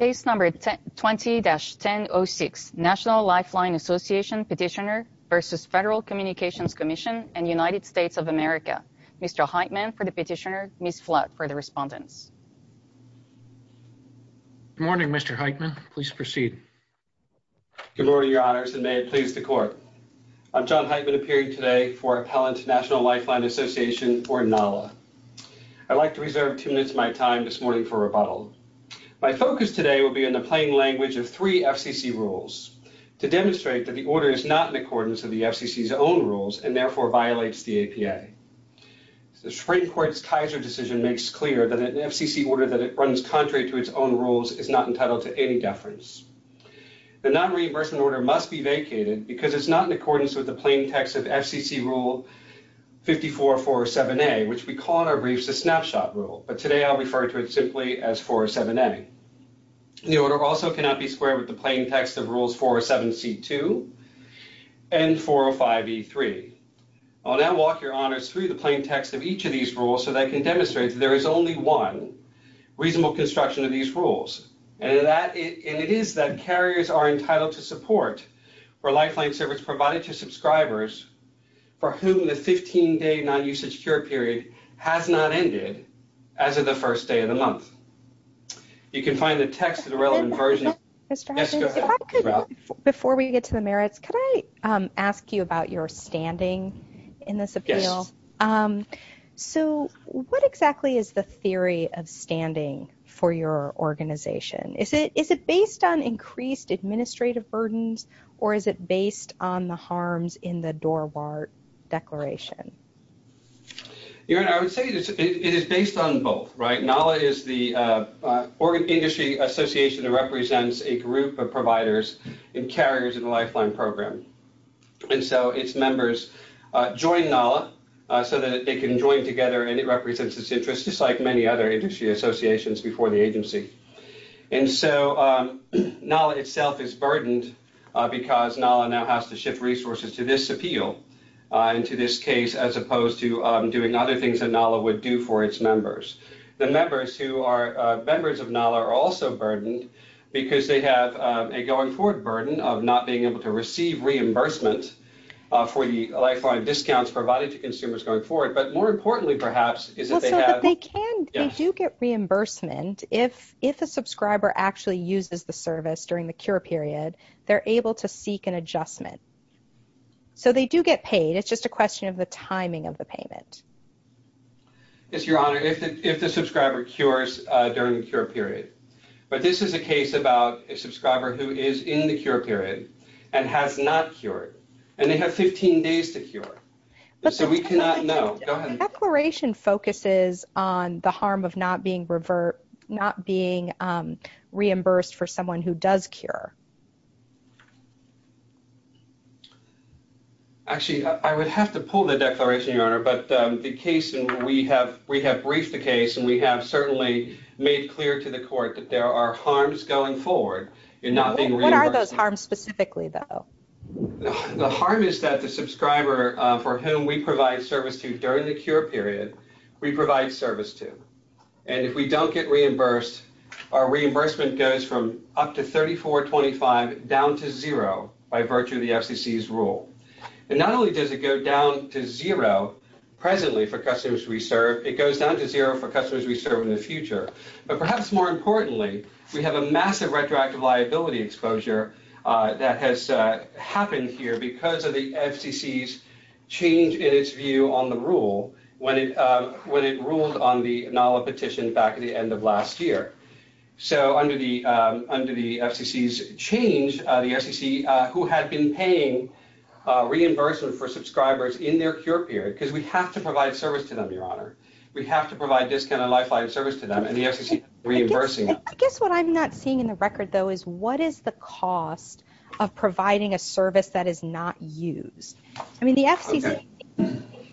20-1006 National Lifeline Association Petitioner v. Federal Communications Commission and United States of America. Mr. Heitman for the petitioner, Ms. Flood for the respondents. Good morning, Mr. Heitman. Please proceed. Good morning, Your Honors, and may it please the Court. I'm John Heitman, appearing today for Appellant National Lifeline Association for NALA. I'd like to reserve two minutes of my time this morning for rebuttal. My focus today will be on the plain language of three FCC rules to demonstrate that the order is not in accordance with the FCC's own rules and therefore violates the APA. The Supreme Court's Kaiser decision makes clear that an FCC order that runs contrary to its own rules is not entitled to any deference. The nonreimbursement order must be vacated because it's not in accordance with the plain as 407A. The order also cannot be squared with the plain text of rules 407C2 and 405E3. I'll now walk Your Honors through the plain text of each of these rules so that I can demonstrate that there is only one reasonable construction of these rules, and it is that carriers are entitled to support for lifeline service provided to subscribers for whom the first day of the month. You can find the text of the relevant version. Before we get to the merits, can I ask you about your standing in this appeal? Yes. So, what exactly is the theory of standing for your organization? Is it based on increased administrative burdens, or is it based on the harms in the Dorwart Declaration? Your Honor, I would say it is based on both, right? NALA is the industry association that represents a group of providers and carriers in the lifeline program. And so, its members join NALA so that they can join together, and it represents its interest, just like many other industry associations before the agency. And so, NALA itself is burdened because NALA now has to shift resources to this appeal, and to this case, as opposed to doing other things that NALA would do for its members. The members of NALA are also burdened because they have a going-forward burden of not being able to receive reimbursement for the lifeline discounts provided to consumers going forward. But more importantly, perhaps, is that they have… But they do get reimbursement if a subscriber actually uses the service during the cure period. They're able to seek an adjustment. So, they do get paid. It's just a question of the timing of the payment. Yes, Your Honor, if the subscriber cures during the cure period. But this is a case about a subscriber who is in the cure period and has not cured, and they have 15 days to cure. So, we cannot know. Go ahead. The Declaration focuses on the harm of not being reimbursed for someone who does cure. Actually, I would have to pull the Declaration, Your Honor. But the case, and we have briefed the case, and we have certainly made clear to the court that there are harms going forward in not being reimbursed. What are those harms specifically, though? The harm is that the subscriber for whom we provide service to during the cure period, we provide service to. And if we don't get reimbursed, our reimbursement goes from up to $3425 down to $0 by virtue of the FCC's rule. And not only does it go down to $0 presently for customers we serve, it goes down to $0 for customers we serve in the future. But perhaps more importantly, we have a massive retroactive liability exposure that has happened here because of the FCC's change in its view on the rule when it ruled on the NALA petition back at the end of last year. So under the FCC's change, the FCC, who had been paying reimbursement for subscribers in their cure period, because we have to provide service to them, Your Honor. We have to provide discounted and lifelike service to them, and the FCC is reimbursing them. I guess what I'm not seeing in the record, though, is what is the cost of providing a service that is not used? I mean, the FCC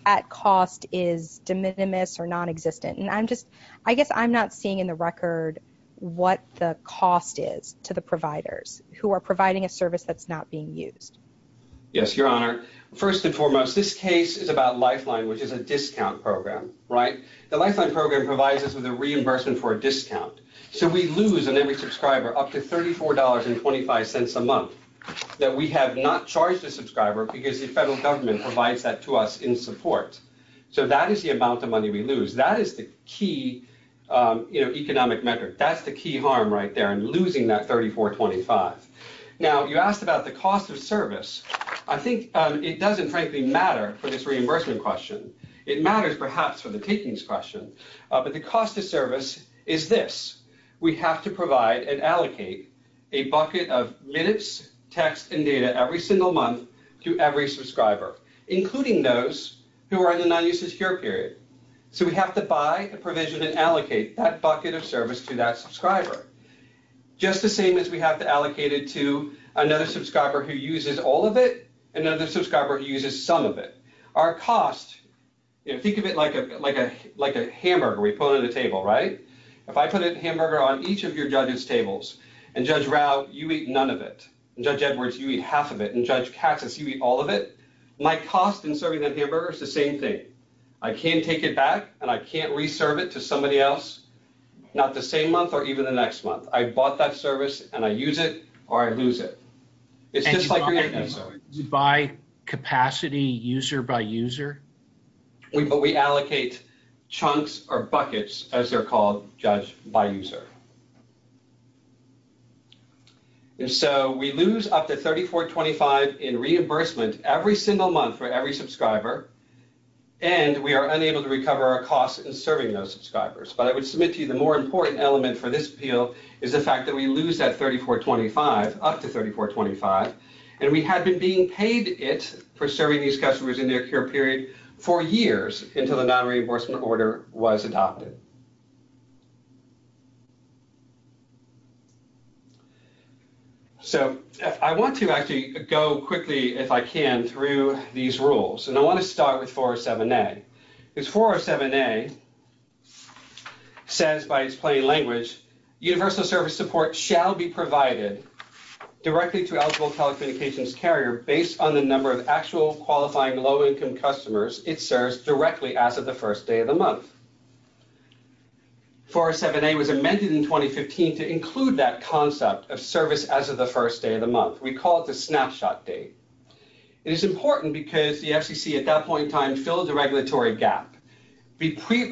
at cost is de minimis or non-existent. And I guess I'm not seeing in the record what the cost is to the providers who are providing a service that's not being used. Yes, Your Honor. First and foremost, this case is about Lifeline, which is a discount program, right? The Lifeline program provides us with a reimbursement for a discount. So we lose on every subscriber up to $34.25 a month that we have not charged a subscriber because the federal government provides that to us in support. So that is the amount of key economic metric. That's the key harm right there in losing that $34.25. Now, you asked about the cost of service. I think it doesn't, frankly, matter for this reimbursement question. It matters, perhaps, for the takings question. But the cost of service is this. We have to provide and allocate a bucket of minutes, text, and data every single month to every subscriber, including those who are in the non-use of cure period. So we have to buy a provision and allocate that bucket of service to that subscriber, just the same as we have to allocate it to another subscriber who uses all of it, another subscriber who uses some of it. Our cost, think of it like a hamburger we put on the table, right? If I put a hamburger on each of your judges' tables and Judge Rao, you eat none of it, and Judge Edwards, you eat half of it, and Judge Cassis, you eat all of it, my cost in serving that hamburger is the same thing. I can't take it back, and I can't re-serve it to somebody else, not the same month or even the next month. I bought that service, and I use it or I lose it. It's just like you're eating it. By capacity, user by user? But we allocate chunks or buckets, as they're called, Judge, by user. And so we lose up to $34.25 in reimbursement every single month for every subscriber, and we are unable to recover our cost in serving those subscribers. But I would submit to you the more important element for this appeal is the fact that we lose that $34.25, up to $34.25, and we had been being paid it for serving these customers in their cure period for years until the non-reimbursement order was adopted. So I want to actually go quickly, if I can, through these rules, and I want to start with 407A. Because 407A says, by its plain language, universal service support shall be provided directly to eligible telecommunications carrier based on the number of actual qualifying low numbers it serves directly as of the first day of the month. 407A was amended in 2015 to include that concept of service as of the first day of the month. We call it the snapshot date. It is important because the FCC, at that point in time, filled the regulatory gap.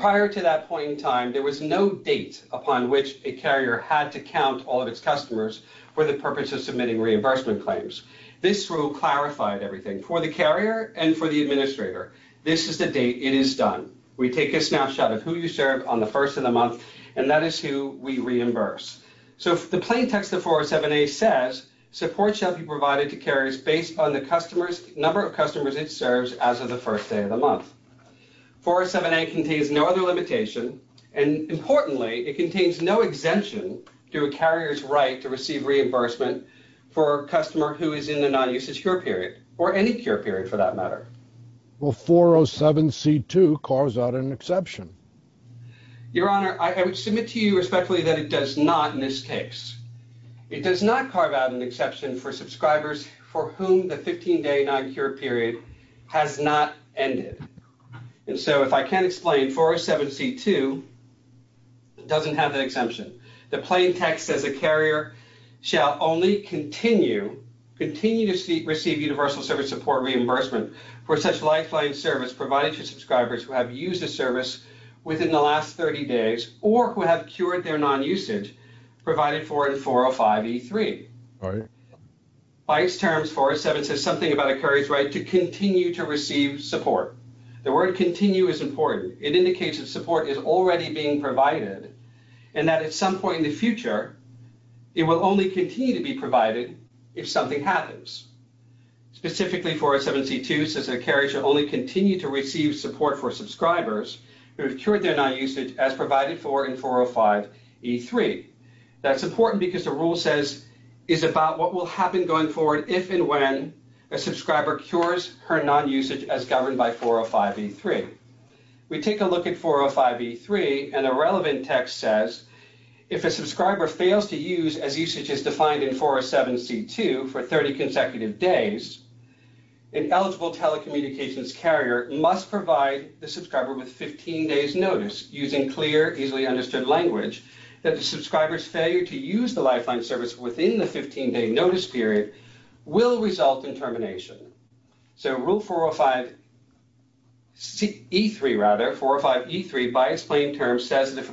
Prior to that point in time, there was no date upon which a carrier had to count all of its customers for the purpose of submitting reimbursement claims. This rule clarified everything for the carrier and for the administrator. This is the date it is done. We take a snapshot of who you serve on the first of the month, and that is who we reimburse. So the plain text of 407A says, support shall be provided to carriers based on the number of customers it serves as of the first day of the month. 407A contains no other limitation, and importantly, it contains no exemption to a carrier's right to receive reimbursement for a customer who is in the non-usage cure period, or any cure period for that matter. Will 407C2 carve out an exception? Your Honor, I would submit to you respectfully that it does not in this case. It does not carve out an exception for subscribers for whom the 15-day non-cure period has not ended. And so if I can't explain, 407C2 doesn't have that exemption. The plain text says, a carrier shall only continue to receive universal service support reimbursement for such lifeline service provided to subscribers who have used the service within the last 30 days or who have cured their non-usage provided for in 405E3. By its terms, 407 says something about a carrier's right to continue to receive support. The word continue is important. It indicates that support is already being provided and that at some point in the future, it will only continue to be provided if something happens. Specifically, 407C2 says that a carrier shall only continue to receive support for subscribers who have cured their non-usage as provided for in 405E3. That's important because the rule says it's about what will happen going forward if and when a subscriber cures her non-usage as governed by 405E3. We take a look at 405E3, and the relevant text says, if a subscriber fails to use as usage is defined in 407C2 for 30 consecutive days, an eligible telecommunications carrier must provide the subscriber with 15 days' notice using clear, easily understood language that the subscriber's failure to use the Lifeline service within the 15-day notice period will result in termination. So rule 405E3, by its plain terms, says that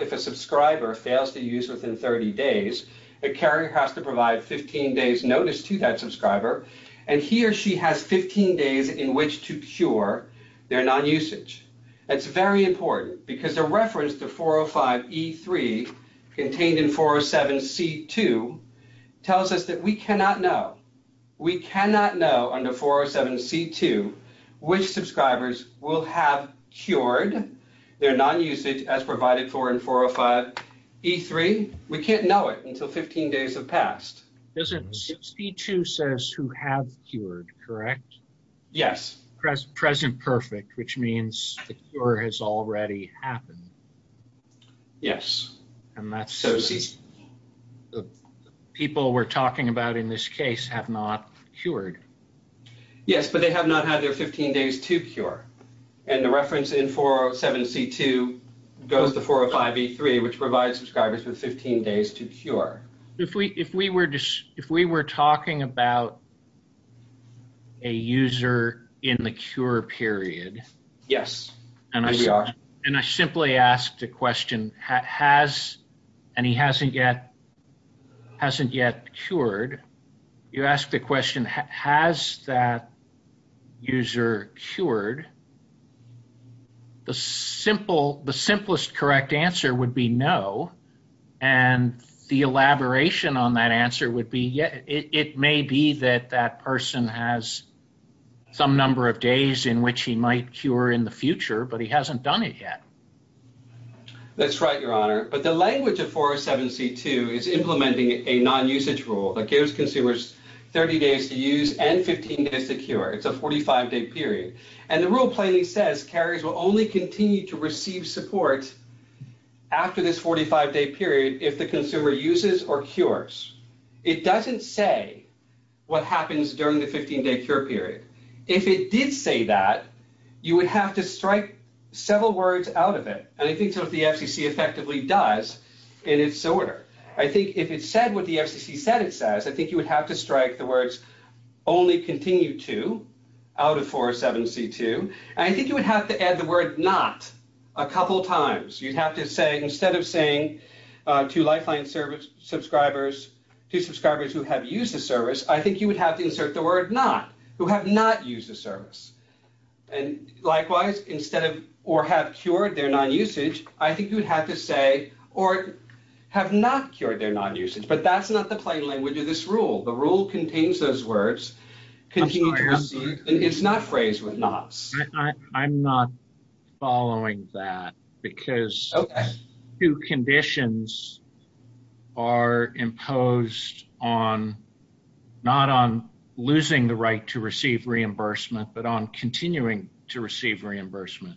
if a subscriber fails to use within 30 days, a carrier has to provide 15 days' notice to that subscriber, and he or she has 15 days in which to cure their non-usage. That's very important because the reference to 405E3 contained in 407C2 tells us that we cannot know. We cannot know under 407C2 which subscribers will have cured their non-usage as provided for in 405E3. We can't know it until 15 days have passed. Yes. Yes. Yes, but they have not had their 15 days to cure, and the reference in 407C2 goes to 405E3, which provides subscribers with 15 days to cure. If we were talking about a user in the cure period. Yes, we are. And I simply asked a question, and he hasn't yet cured. You asked the question, has that user cured? The simplest correct answer would be no, and the elaboration on that answer would be yes. It may be that that person has some number of days in which he might cure in the future, but he hasn't done it yet. That's right, Your Honor, but the language of 407C2 is implementing a non-usage rule that gives consumers 30 days to use and 15 days to cure. It's a 45-day period, and the rule plainly says carriers will only continue to receive support after this 45-day period if the consumer uses or cures. It doesn't say what happens during the 15-day cure period. If it did say that, you would have to strike several words out of it, and I think sort of the FCC effectively does in its order. I think if it said what the FCC said it says, I think you would have to strike the words only continue to out of 407C2, and I think you would have to add the word not a couple times. You'd have to say instead of saying to Lifeline subscribers, to subscribers who have used the service, I think you would have to insert the word not, who have not used the service. Likewise, instead of or have cured their non-usage, I think you would have to say or have not cured their non-usage, but that's not the plain language of this rule. The rule contains those words. It's not phrased with nots. I'm not following that because two conditions are imposed on not on losing the right to receive reimbursement but on continuing to receive reimbursement.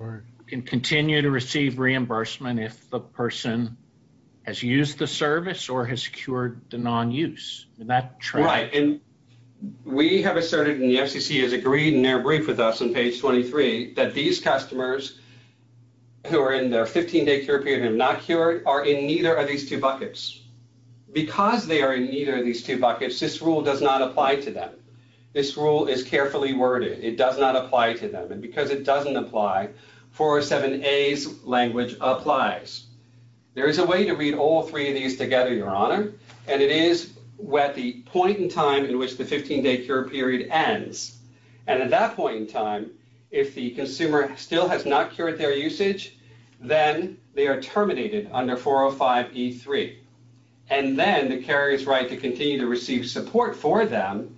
You can continue to receive reimbursement if the person has used the service or has cured the non-use. Right, and we have asserted and the FCC has agreed and they're briefed with us on page 23 that these customers who are in their 15-day cure period and have not cured are in neither of these two buckets. Because they are in neither of these two buckets, this rule does not apply to them. This rule is carefully worded. It does not apply to them, and because it doesn't apply, 407A's language applies. There is a way to read all three of these together, Your Honor, and it is at the point in time in which the 15-day cure period ends. And at that point in time, if the consumer still has not cured their usage, then they are terminated under 405E3. And then the carrier's right to continue to receive support for them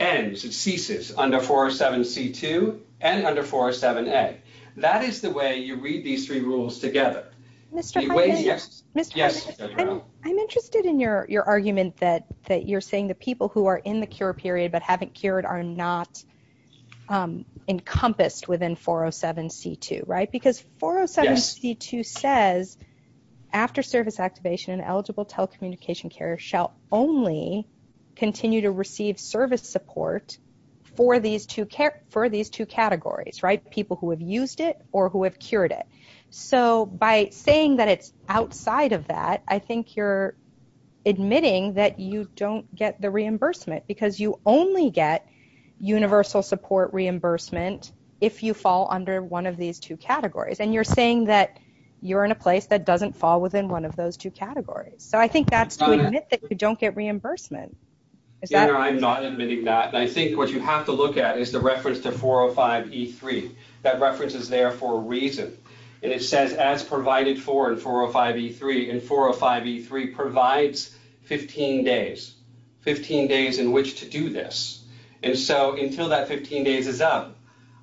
ends, it ceases, under 407C2 and under 407A. That is the way you read these three rules together. Mr. Hyman, I'm interested in your argument that you're saying the people who are in the cure period but haven't cured are not encompassed within 407C2, right? Because 407C2 says after service activation, an eligible telecommunication carrier shall only continue to receive service support for these two categories, right? The people who have used it or who have cured it. So by saying that it's outside of that, I think you're admitting that you don't get the reimbursement because you only get universal support reimbursement if you fall under one of these two categories. And you're saying that you're in a place that doesn't fall within one of those two categories. So I think that's to admit that you don't get reimbursement. Is that? Your Honor, I'm not admitting that. And I think what you have to look at is the reference to 405E3. That reference is there for a reason. And it says as provided for in 405E3. And 405E3 provides 15 days, 15 days in which to do this. And so until that 15 days is up,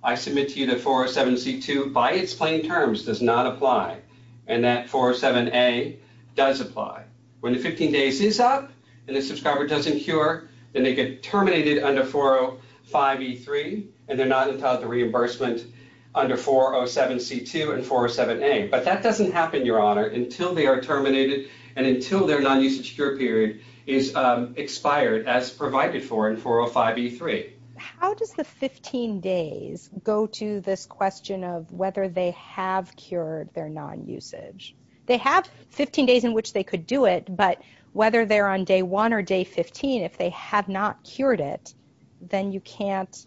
I submit to you that 407C2 by its plain terms does not apply. And that 407A does apply. When the 15 days is up and the subscriber doesn't cure, then they get terminated under 405E3. And they're not entitled to reimbursement under 407C2 and 407A. But that doesn't happen, Your Honor, until they are terminated and until their non-usage cure period is expired as provided for in 405E3. How does the 15 days go to this question of whether they have cured their non-usage? They have 15 days in which they could do it, but whether they're on day one or day 15, if they have not cured it, then you can't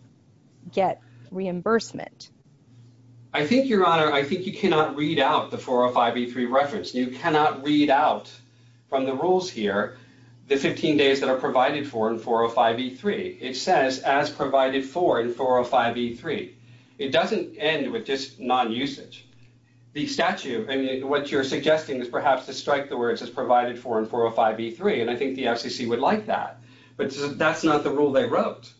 get reimbursement. I think, Your Honor, I think you cannot read out the 405E3 reference. You cannot read out from the rules here the 15 days that are provided for in 405E3. It says as provided for in 405E3. It doesn't end with just non-usage. The statute and what you're suggesting is perhaps to strike the words as provided for in 405E3, and I think the FCC would like that. But that's not the rule they wrote.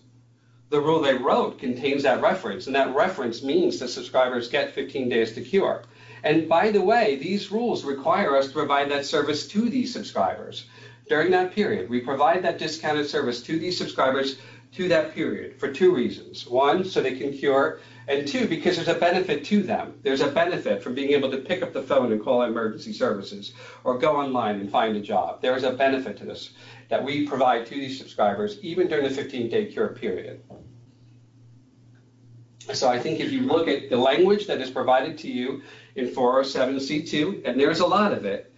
The rule they wrote contains that reference, and that reference means that subscribers get 15 days to cure. And by the way, these rules require us to provide that service to these subscribers during that period. We provide that discounted service to these subscribers to that period for two reasons. One, so they can cure, and two, because there's a benefit to them. There's a benefit from being able to pick up the phone and call emergency services or go online and find a job. There's a benefit to this that we provide to these subscribers even during the 15-day cure period. So I think if you look at the language that is provided to you in 407C2, and there's a lot of it,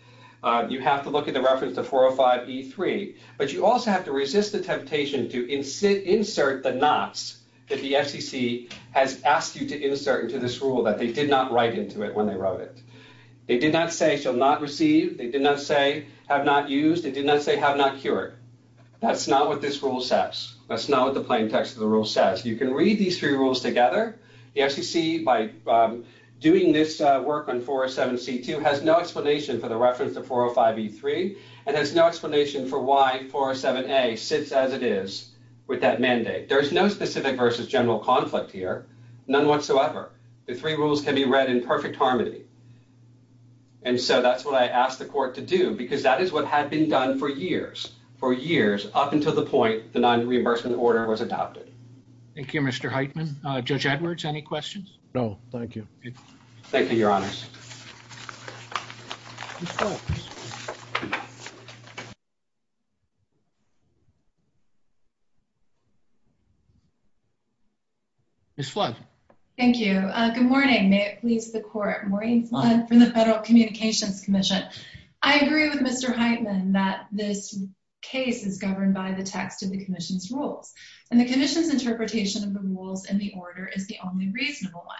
you have to look at the reference to 405E3, but you also have to resist the temptation to insert the nots that the FCC has asked you to insert into this rule that they did not write into it when they wrote it. They did not say shall not receive. They did not say have not used. They did not say have not cured. That's not what this rule says. That's not what the plain text of the rule says. You can read these three rules together. The FCC, by doing this work on 407C2, has no explanation for the reference to 405E3 and has no explanation for why 407A sits as it is with that mandate. There's no specific versus general conflict here, none whatsoever. The three rules can be read in perfect harmony. And so that's what I asked the court to do because that is what had been done for years, for years, up until the point the non-reimbursement order was adopted. Thank you, Mr. Heitman. Judge Edwards, any questions? No, thank you. Thank you, Your Honors. Ms. Holmes. Ms. Flood. Thank you. Good morning. May it please the court. Maureen Flood from the Federal Communications Commission. I agree with Mr. Heitman that this case is governed by the text of the commission's rules, and the commission's interpretation of the rules in the order is the only reasonable one.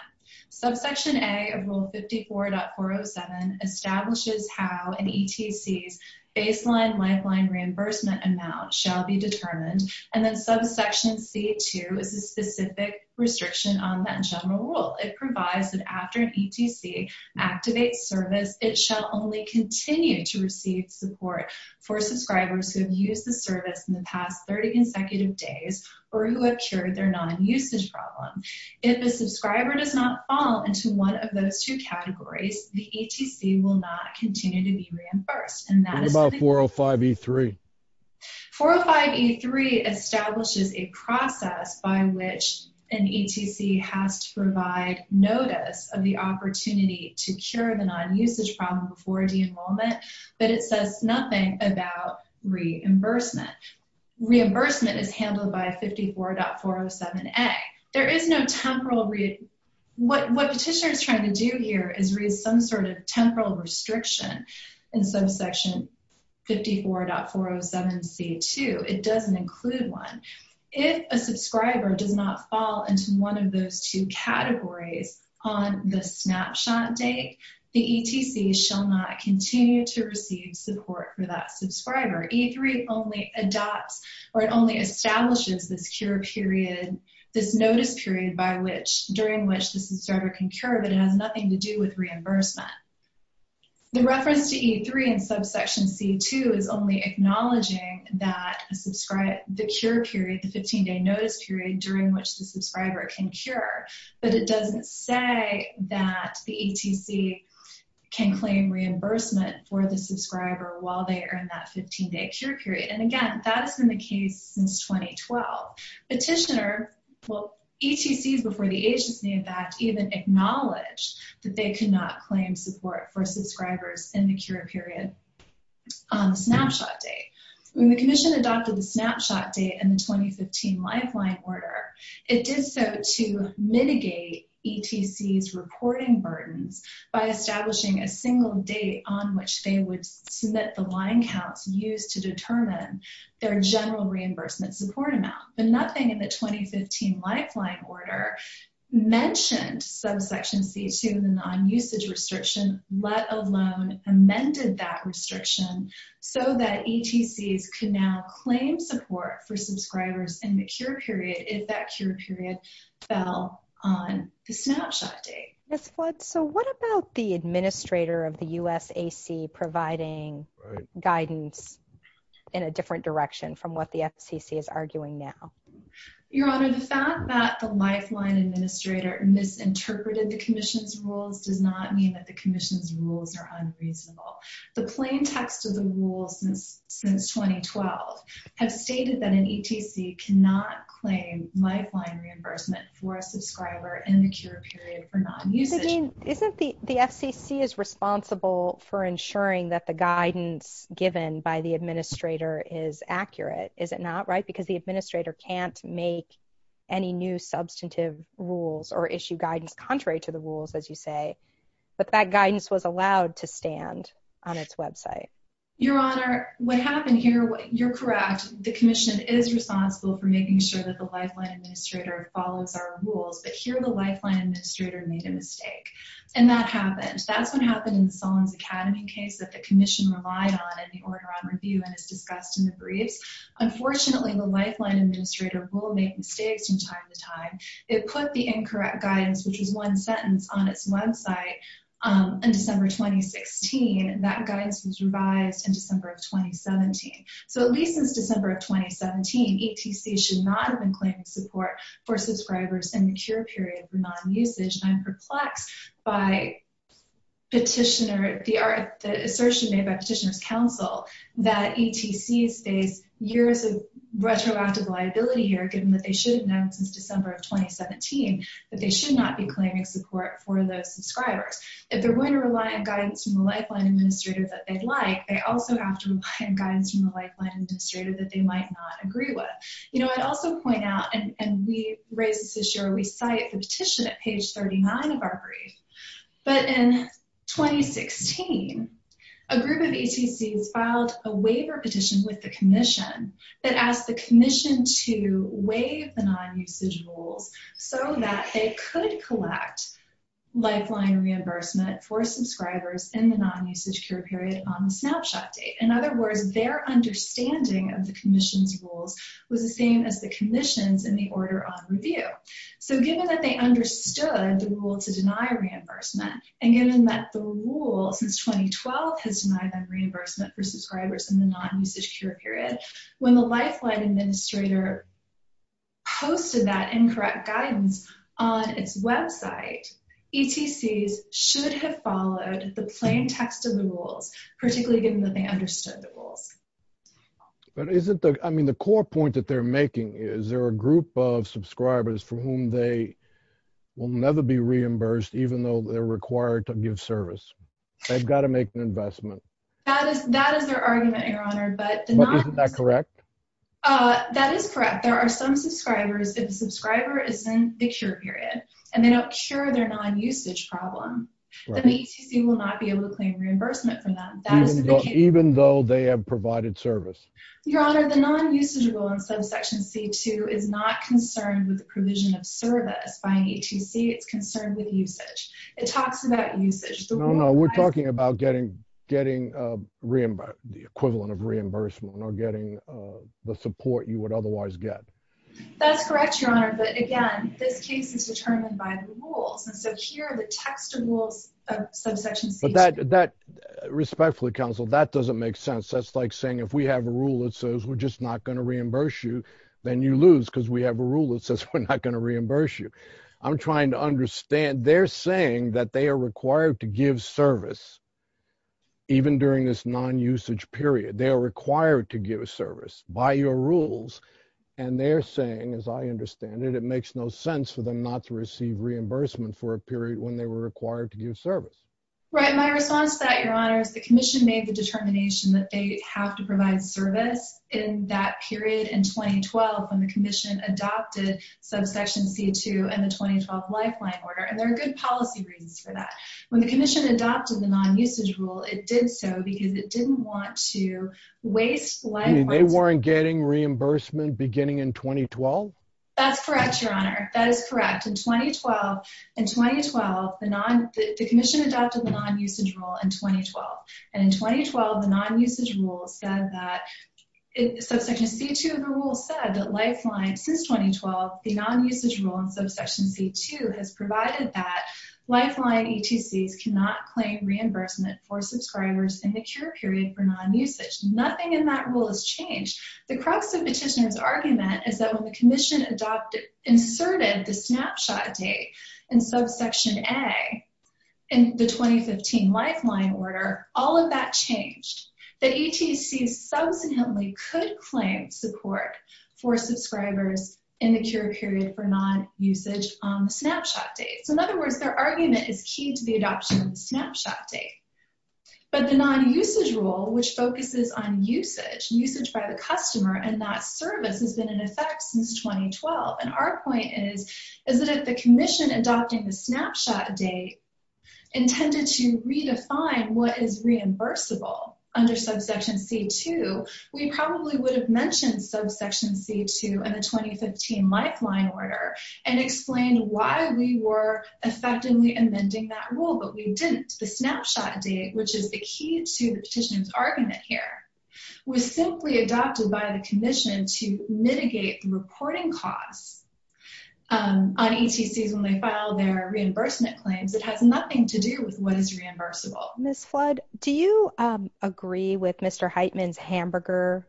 Subsection A of Rule 54.407 establishes how an ETC's baseline lifeline reimbursement amount shall be determined, and then Subsection C2 is a specific restriction on that general rule. It provides that after an ETC activates service, it shall only continue to receive support for subscribers who have used the service in the past 30 consecutive days or who have cured their non-usage problem. If a subscriber does not fall into one of those two categories, the ETC will not continue to be reimbursed. What about 405E3? 405E3 establishes a process by which an ETC has to provide notice of the opportunity to cure the non-usage problem before de-enrollment, but it says nothing about reimbursement. Reimbursement is handled by 54.407A. What Petitioner is trying to do here is raise some sort of temporal restriction in Subsection 54.407C2. It doesn't include one. If a subscriber does not fall into one of those two categories on the snapshot date, the ETC shall not continue to receive support for that subscriber. E3 only adopts or it only establishes this notice period during which the subscriber can cure, but it has nothing to do with reimbursement. The reference to E3 in Subsection C2 is only acknowledging the cure period, the 15-day notice period during which the subscriber can cure, but it doesn't say that the ETC can claim reimbursement for the subscriber while they are in that 15-day cure period. And, again, that has been the case since 2012. Petitioner, well, ETCs before the Age Disney Act even acknowledged that they could not claim support for subscribers in the cure period on the snapshot date. When the Commission adopted the snapshot date in the 2015 Lifeline Order, it did so to mitigate ETCs reporting burdens by establishing a single date on which they would submit the line counts used to determine their general reimbursement support amount. But nothing in the 2015 Lifeline Order mentioned Subsection C2, the non-usage restriction, let alone amended that restriction so that ETCs could now claim support for subscribers in the cure period if that cure period fell on the snapshot date. Ms. Flood, so what about the administrator of the USAC providing guidance in a different direction from what the FCC is arguing now? Your Honor, the fact that the Lifeline administrator misinterpreted the Commission's rules does not mean that the Commission's rules are unreasonable. The plain text of the rules since 2012 have stated that an ETC cannot claim Lifeline reimbursement for a subscriber in the cure period for non-usage. But, Dean, isn't the FCC responsible for ensuring that the guidance given by the administrator is accurate? Is it not, right? Because the administrator can't make any new substantive rules or issue guidance contrary to the rules, as you say. But that guidance was allowed to stand on its website. Your Honor, what happened here, you're correct. The Commission is responsible for making sure that the Lifeline administrator follows our rules. But here, the Lifeline administrator made a mistake. And that happened. That's what happened in the Sollins Academy case that the Commission relied on in the Order on Review and is discussed in the briefs. Unfortunately, the Lifeline administrator will make mistakes from time to time. It put the incorrect guidance, which is one sentence, on its website in December 2016. That guidance was revised in December of 2017. So at least since December of 2017, ETCs should not have been claiming support for subscribers in the cure period for non-usage. And I'm perplexed by the assertion made by Petitioner's Counsel that ETCs face years of retroactive liability here, given that they should have known since December of 2017 that they should not be claiming support for those subscribers. If they're going to rely on guidance from the Lifeline administrator that they'd like, they also have to rely on guidance from the Lifeline administrator that they might not agree with. You know, I'd also point out, and we raised this this year, we cite the petition at page 39 of our brief. But in 2016, a group of ETCs filed a waiver petition with the Commission that asked the Commission to waive the non-usage rules so that they could collect Lifeline reimbursement for subscribers in the non-usage cure period on the snapshot date. In other words, their understanding of the Commission's rules was the same as the Commission's in the order on review. So given that they understood the rule to deny reimbursement, and given that the rule since 2012 has denied them reimbursement for subscribers in the non-usage cure period, when the Lifeline administrator posted that incorrect guidance on its website, ETCs should have followed the plain text of the rules, particularly given that they understood the rules. But isn't the—I mean, the core point that they're making is there a group of subscribers for whom they will never be reimbursed, even though they're required to give service. They've got to make an investment. That is their argument, Your Honor. But isn't that correct? That is correct. There are some subscribers, if the subscriber is in the cure period, and they don't cure their non-usage problem, then ETC will not be able to claim reimbursement from them. Even though they have provided service? Your Honor, the non-usage rule in subsection C-2 is not concerned with the provision of service by an ETC. It's concerned with usage. It talks about usage. No, no. We're talking about getting the equivalent of reimbursement or getting the support you would otherwise get. That's correct, Your Honor. But, again, this case is determined by the rules. And so here are the text of rules of subsection C-2. But that—respectfully, counsel, that doesn't make sense. That's like saying if we have a rule that says we're just not going to reimburse you, then you lose because we have a rule that says we're not going to reimburse you. I'm trying to understand. They're saying that they are required to give service even during this non-usage period. They are required to give service by your rules. And they're saying, as I understand it, it makes no sense for them not to receive reimbursement for a period when they were required to give service. Right. My response to that, Your Honor, is the commission made the determination that they have to provide service in that period in 2012 when the commission adopted subsection C-2 and the 2012 lifeline order. And there are good policy reasons for that. When the commission adopted the non-usage rule, it did so because it didn't want to waste— You mean they weren't getting reimbursement beginning in 2012? That's correct, Your Honor. That is correct. In 2012, the commission adopted the non-usage rule in 2012. And in 2012, the non-usage rule said that—subsection C-2 of the rule said that lifeline since 2012, the non-usage rule in subsection C-2 has provided that lifeline ETCs cannot claim reimbursement for subscribers in the cure period for non-usage. Nothing in that rule has changed. The crux of Petitioner's argument is that when the commission inserted the snapshot date in subsection A in the 2015 lifeline order, all of that changed. The ETCs subsequently could claim support for subscribers in the cure period for non-usage on the snapshot date. So, in other words, their argument is key to the adoption of the snapshot date. But the non-usage rule, which focuses on usage, usage by the customer, and that service has been in effect since 2012. And our point is that if the commission adopting the snapshot date intended to redefine what is reimbursable under subsection C-2, we probably would have mentioned subsection C-2 in the 2015 lifeline order and explained why we were effectively amending that rule, but we didn't. The snapshot date, which is the key to Petitioner's argument here, was simply adopted by the commission to mitigate the reporting costs on ETCs when they filed their reimbursement claims. It has nothing to do with what is reimbursable. Ms. Flood, do you agree with Mr. Heitman's hamburger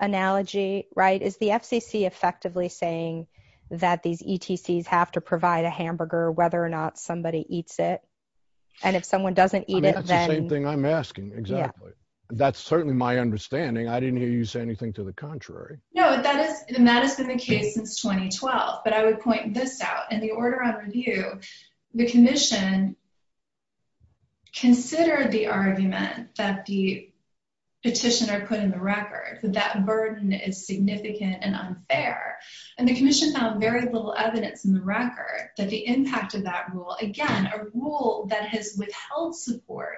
analogy, right? Is the FCC effectively saying that these ETCs have to provide a hamburger whether or not somebody eats it? And if someone doesn't eat it, then... That's the same thing I'm asking, exactly. That's certainly my understanding. I didn't hear you say anything to the contrary. No, and that has been the case since 2012. But I would point this out. In the order of review, the commission considered the argument that the Petitioner put in the record, that that burden is significant and unfair. And the commission found very little evidence in the record that the impact of that rule, again, a rule that has withheld support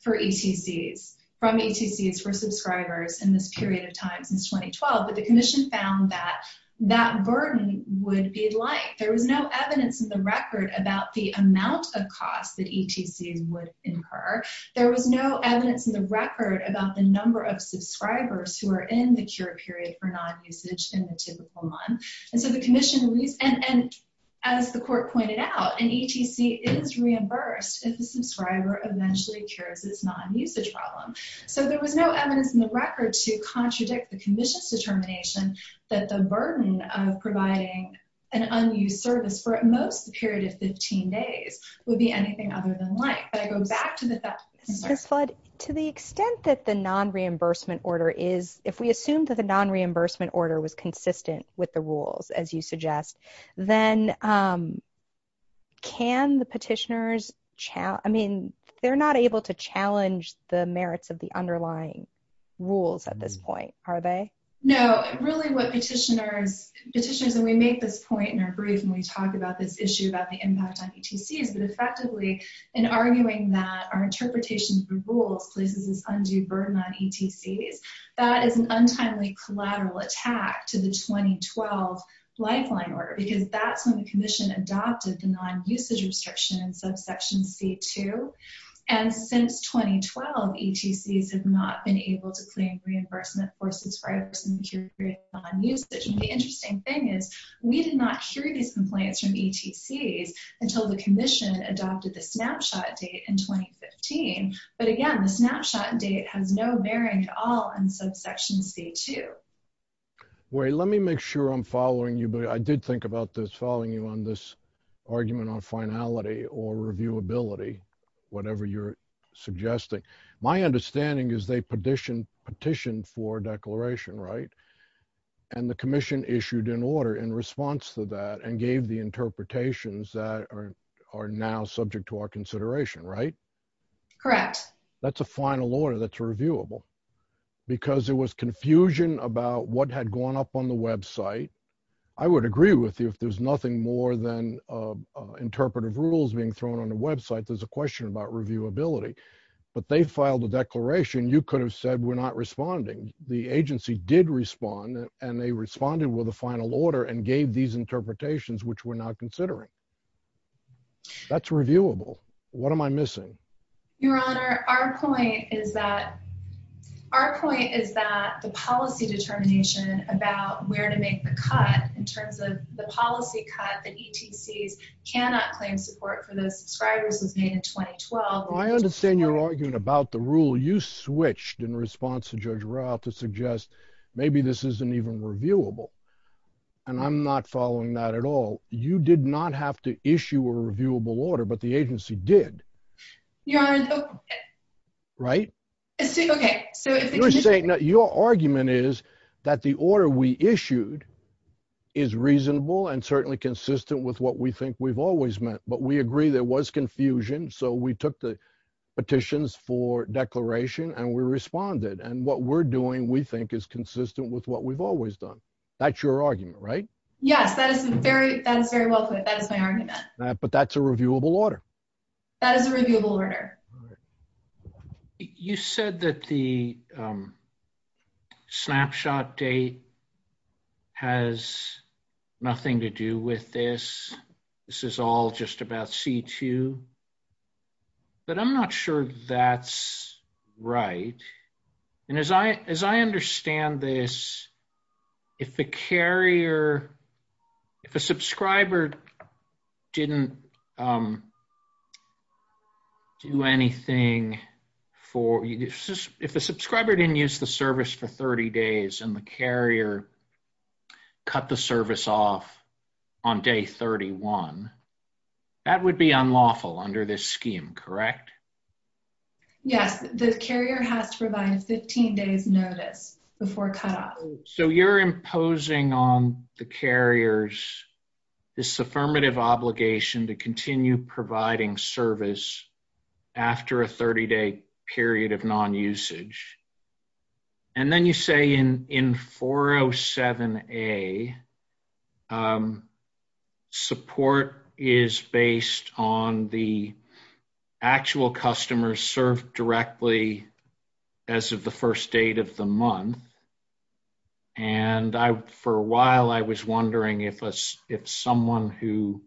for ETCs, from ETCs for subscribers in this period of time since 2012, but the commission found that that burden would be light. There was no evidence in the record about the amount of costs that ETCs would incur. There was no evidence in the record about the number of subscribers who are in the cure period for non-usage in the typical month. And so the commission, and as the court pointed out, an ETC is reimbursed if the subscriber eventually cures its non-usage problem. So there was no evidence in the record to contradict the commission's determination that the burden of providing an unused service for at most a period of 15 days would be anything other than light. Ms. Flood, to the extent that the non-reimbursement order is, if we assume that the non-reimbursement order was consistent with the rules, as you suggest, then can the petitioners challenge, I mean, they're not able to challenge the merits of the underlying rules at this point, are they? No, really what petitioners, and we make this point in our brief when we talk about this issue about the impact on ETCs, but effectively in arguing that our interpretation of the rules places this undue burden on ETCs, that is an untimely collateral attack to the 2012 lifeline order, because that's when the commission adopted the non-usage restriction in subsection C2, and since 2012, ETCs have not been able to claim reimbursement for subscribers in the period of non-usage. And the interesting thing is, we did not hear these complaints from ETCs until the commission adopted the snapshot date in 2015. But again, the snapshot date has no bearing at all in subsection C2. Wait, let me make sure I'm following you, but I did think about this following you on this argument on finality or reviewability, whatever you're suggesting. My understanding is they petitioned for a declaration, right? And the commission issued an order in response to that and gave the interpretations that are now subject to our consideration, right? Correct. That's a final order that's reviewable, because there was confusion about what had gone up on the website. I would agree with you if there's nothing more than interpretive rules being thrown on the website, there's a question about reviewability. But they filed a declaration. You could have said we're not responding. The agency did respond, and they responded with a final order and gave these interpretations, which we're now considering. That's reviewable. What am I missing? Your Honor, our point is that the policy determination about where to make the cut in terms of the policy cut that ETCs cannot claim support for those subscribers was made in 2012. I understand you're arguing about the rule. You switched in response to Judge Rao to suggest maybe this isn't even reviewable, and I'm not following that at all. You did not have to issue a reviewable order, but the agency did. Your Honor. Right? Okay. Your argument is that the order we issued is reasonable and certainly consistent with what we think we've always meant. But we agree there was confusion, so we took the petitions for declaration, and we responded. And what we're doing, we think, is consistent with what we've always done. That's your argument, right? Yes, that is very well put. That is my argument. But that's a reviewable order. That is a reviewable order. You said that the snapshot date has nothing to do with this. This is all just about C2. But I'm not sure that's right. And as I understand this, if the carrier, if a subscriber didn't do anything for, if the subscriber didn't use the service for 30 days and the carrier cut the service off on day 31, that would be unlawful under this scheme, correct? Yes. The carrier has to provide a 15-day notice before cutoff. So you're imposing on the carriers this affirmative obligation to continue providing service after a 30-day period of non-usage. And then you say in 407A, support is based on the actual customers served directly as of the first date of the month. And for a while I was wondering if someone who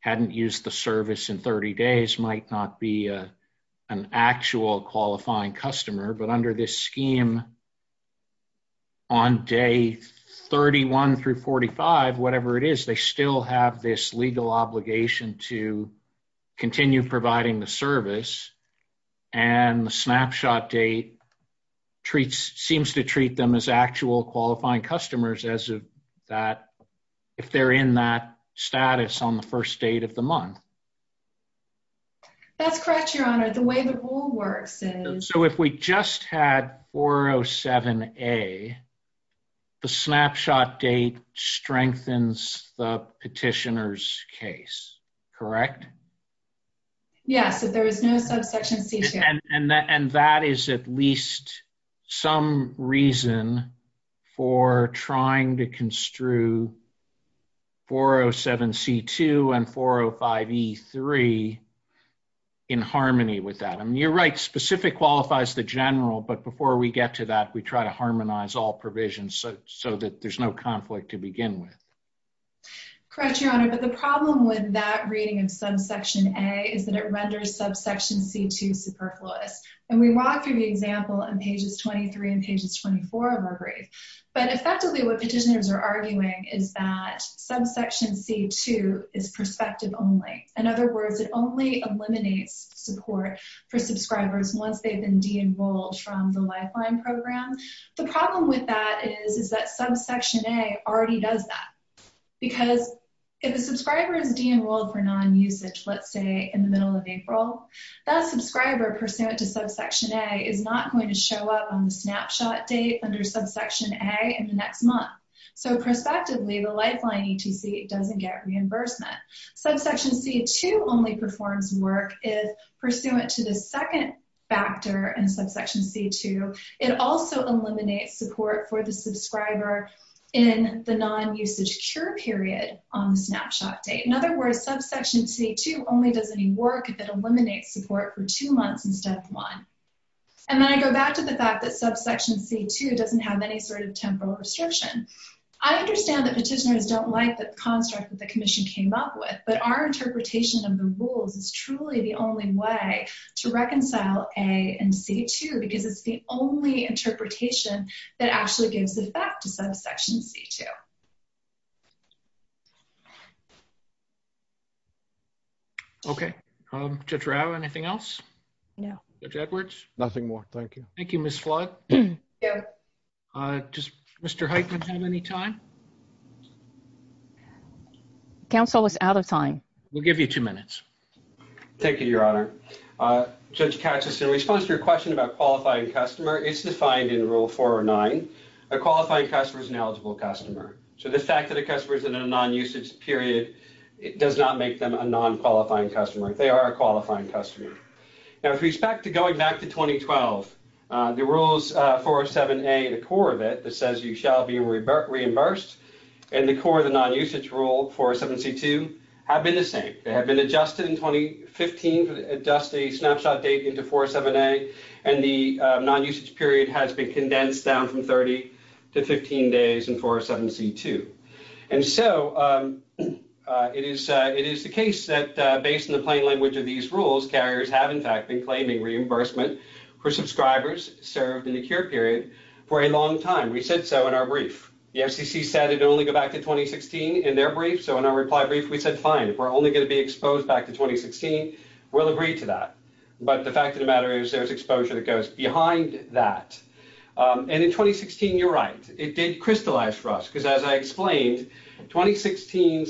hadn't used the service in 30 days might not be an actual qualifying customer, but under this scheme on day 31 through 45, whatever it is, they still have this legal obligation to continue providing the service. And the snapshot date seems to treat them as actual qualifying customers as of that, if they're in that status on the first date of the month. That's correct, Your Honor. The way the rule works is... So if we just had 407A, the snapshot date strengthens the petitioner's case, correct? Yes, if there was no subsection C2. And that is at least some reason for trying to construe 407C2 and 405E3 in harmony with that. I mean, you're right, specific qualifies the general, but before we get to that, we try to harmonize all provisions so that there's no conflict to begin with. Correct, Your Honor, but the problem with that reading of subsection A is that it renders subsection C2 superfluous. And we walk through the example on pages 23 and pages 24 of our brief, but effectively what petitioners are arguing is that subsection C2 is prospective only. In other words, it only eliminates support for subscribers once they've been de-enrolled from the Lifeline program. The problem with that is that subsection A already does that. Because if a subscriber is de-enrolled for non-usage, let's say in the middle of April, that subscriber pursuant to subsection A is not going to show up on the snapshot date under subsection A in the next month. So prospectively, the Lifeline E2C doesn't get reimbursement. Subsection C2 only performs work if pursuant to the second factor in subsection C2, it also eliminates support for the subscriber in the non-usage cure period on the snapshot date. In other words, subsection C2 only does any work if it eliminates support for two months in step one. And then I go back to the fact that subsection C2 doesn't have any sort of temporal restriction. I understand that petitioners don't like the construct that the commission came up with, but our interpretation of the rules is truly the only way to reconcile A and C2, because it's the only interpretation that actually gives effect to subsection C2. Okay. Judge Rao, anything else? No. Judge Edwards? Nothing more, thank you. Thank you, Ms. Flood. Does Mr. Heitmann have any time? Council was out of time. We'll give you two minutes. Thank you, Your Honor. Judge Cacheson, in response to your question about qualifying customer, it's defined in Rule 4 or 9, a qualifying customer is an eligible customer. So the fact that a customer is in a non-usage period does not make them a non-qualifying customer. They are a qualifying customer. Now, with respect to going back to 2012, the rules 407A, the core of it, that says you shall be reimbursed, and the core of the non-usage rule, 407C2, have been the same. They have been adjusted in 2015 to adjust the snapshot date into 407A, and the non-usage period has been condensed down from 30 to 15 days in 407C2. And so it is the case that, based on the plain language of these rules, carriers have, in fact, been claiming reimbursement for subscribers served in the cure period for a long time. We said so in our brief. The FCC said it would only go back to 2016 in their brief, so in our reply brief, we said fine. If we're only going to be exposed back to 2016, we'll agree to that. But the fact of the matter is there's exposure that goes behind that. And in 2016, you're right. It did crystallize for us because, as I explained, the 2015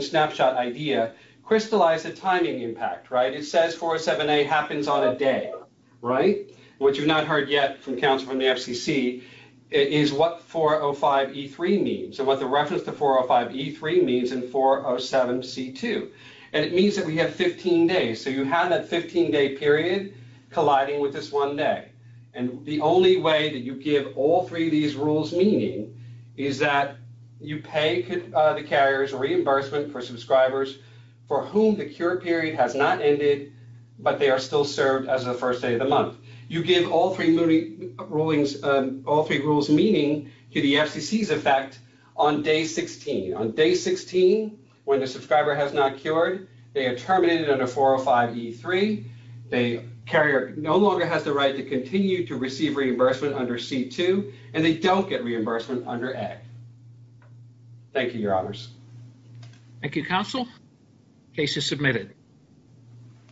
snapshot idea crystallized the timing impact, right? It says 407A happens on a day, right? What you've not heard yet from counsel from the FCC is what 405E3 means and what the reference to 405E3 means in 407C2. And it means that we have 15 days, so you have that 15-day period colliding with this one day. And the only way that you give all three of these rules meaning is that you pay the carriers reimbursement for subscribers for whom the cure period has not ended, but they are still served as the first day of the month. You give all three rulings, all three rules meaning to the FCC's effect on day 16. On day 16, when the subscriber has not cured, they are terminated under 405E3. The carrier no longer has the right to continue to receive reimbursement under C2, and they don't get reimbursement under A. Thank you, Your Honors. Thank you, Counsel. Case is submitted.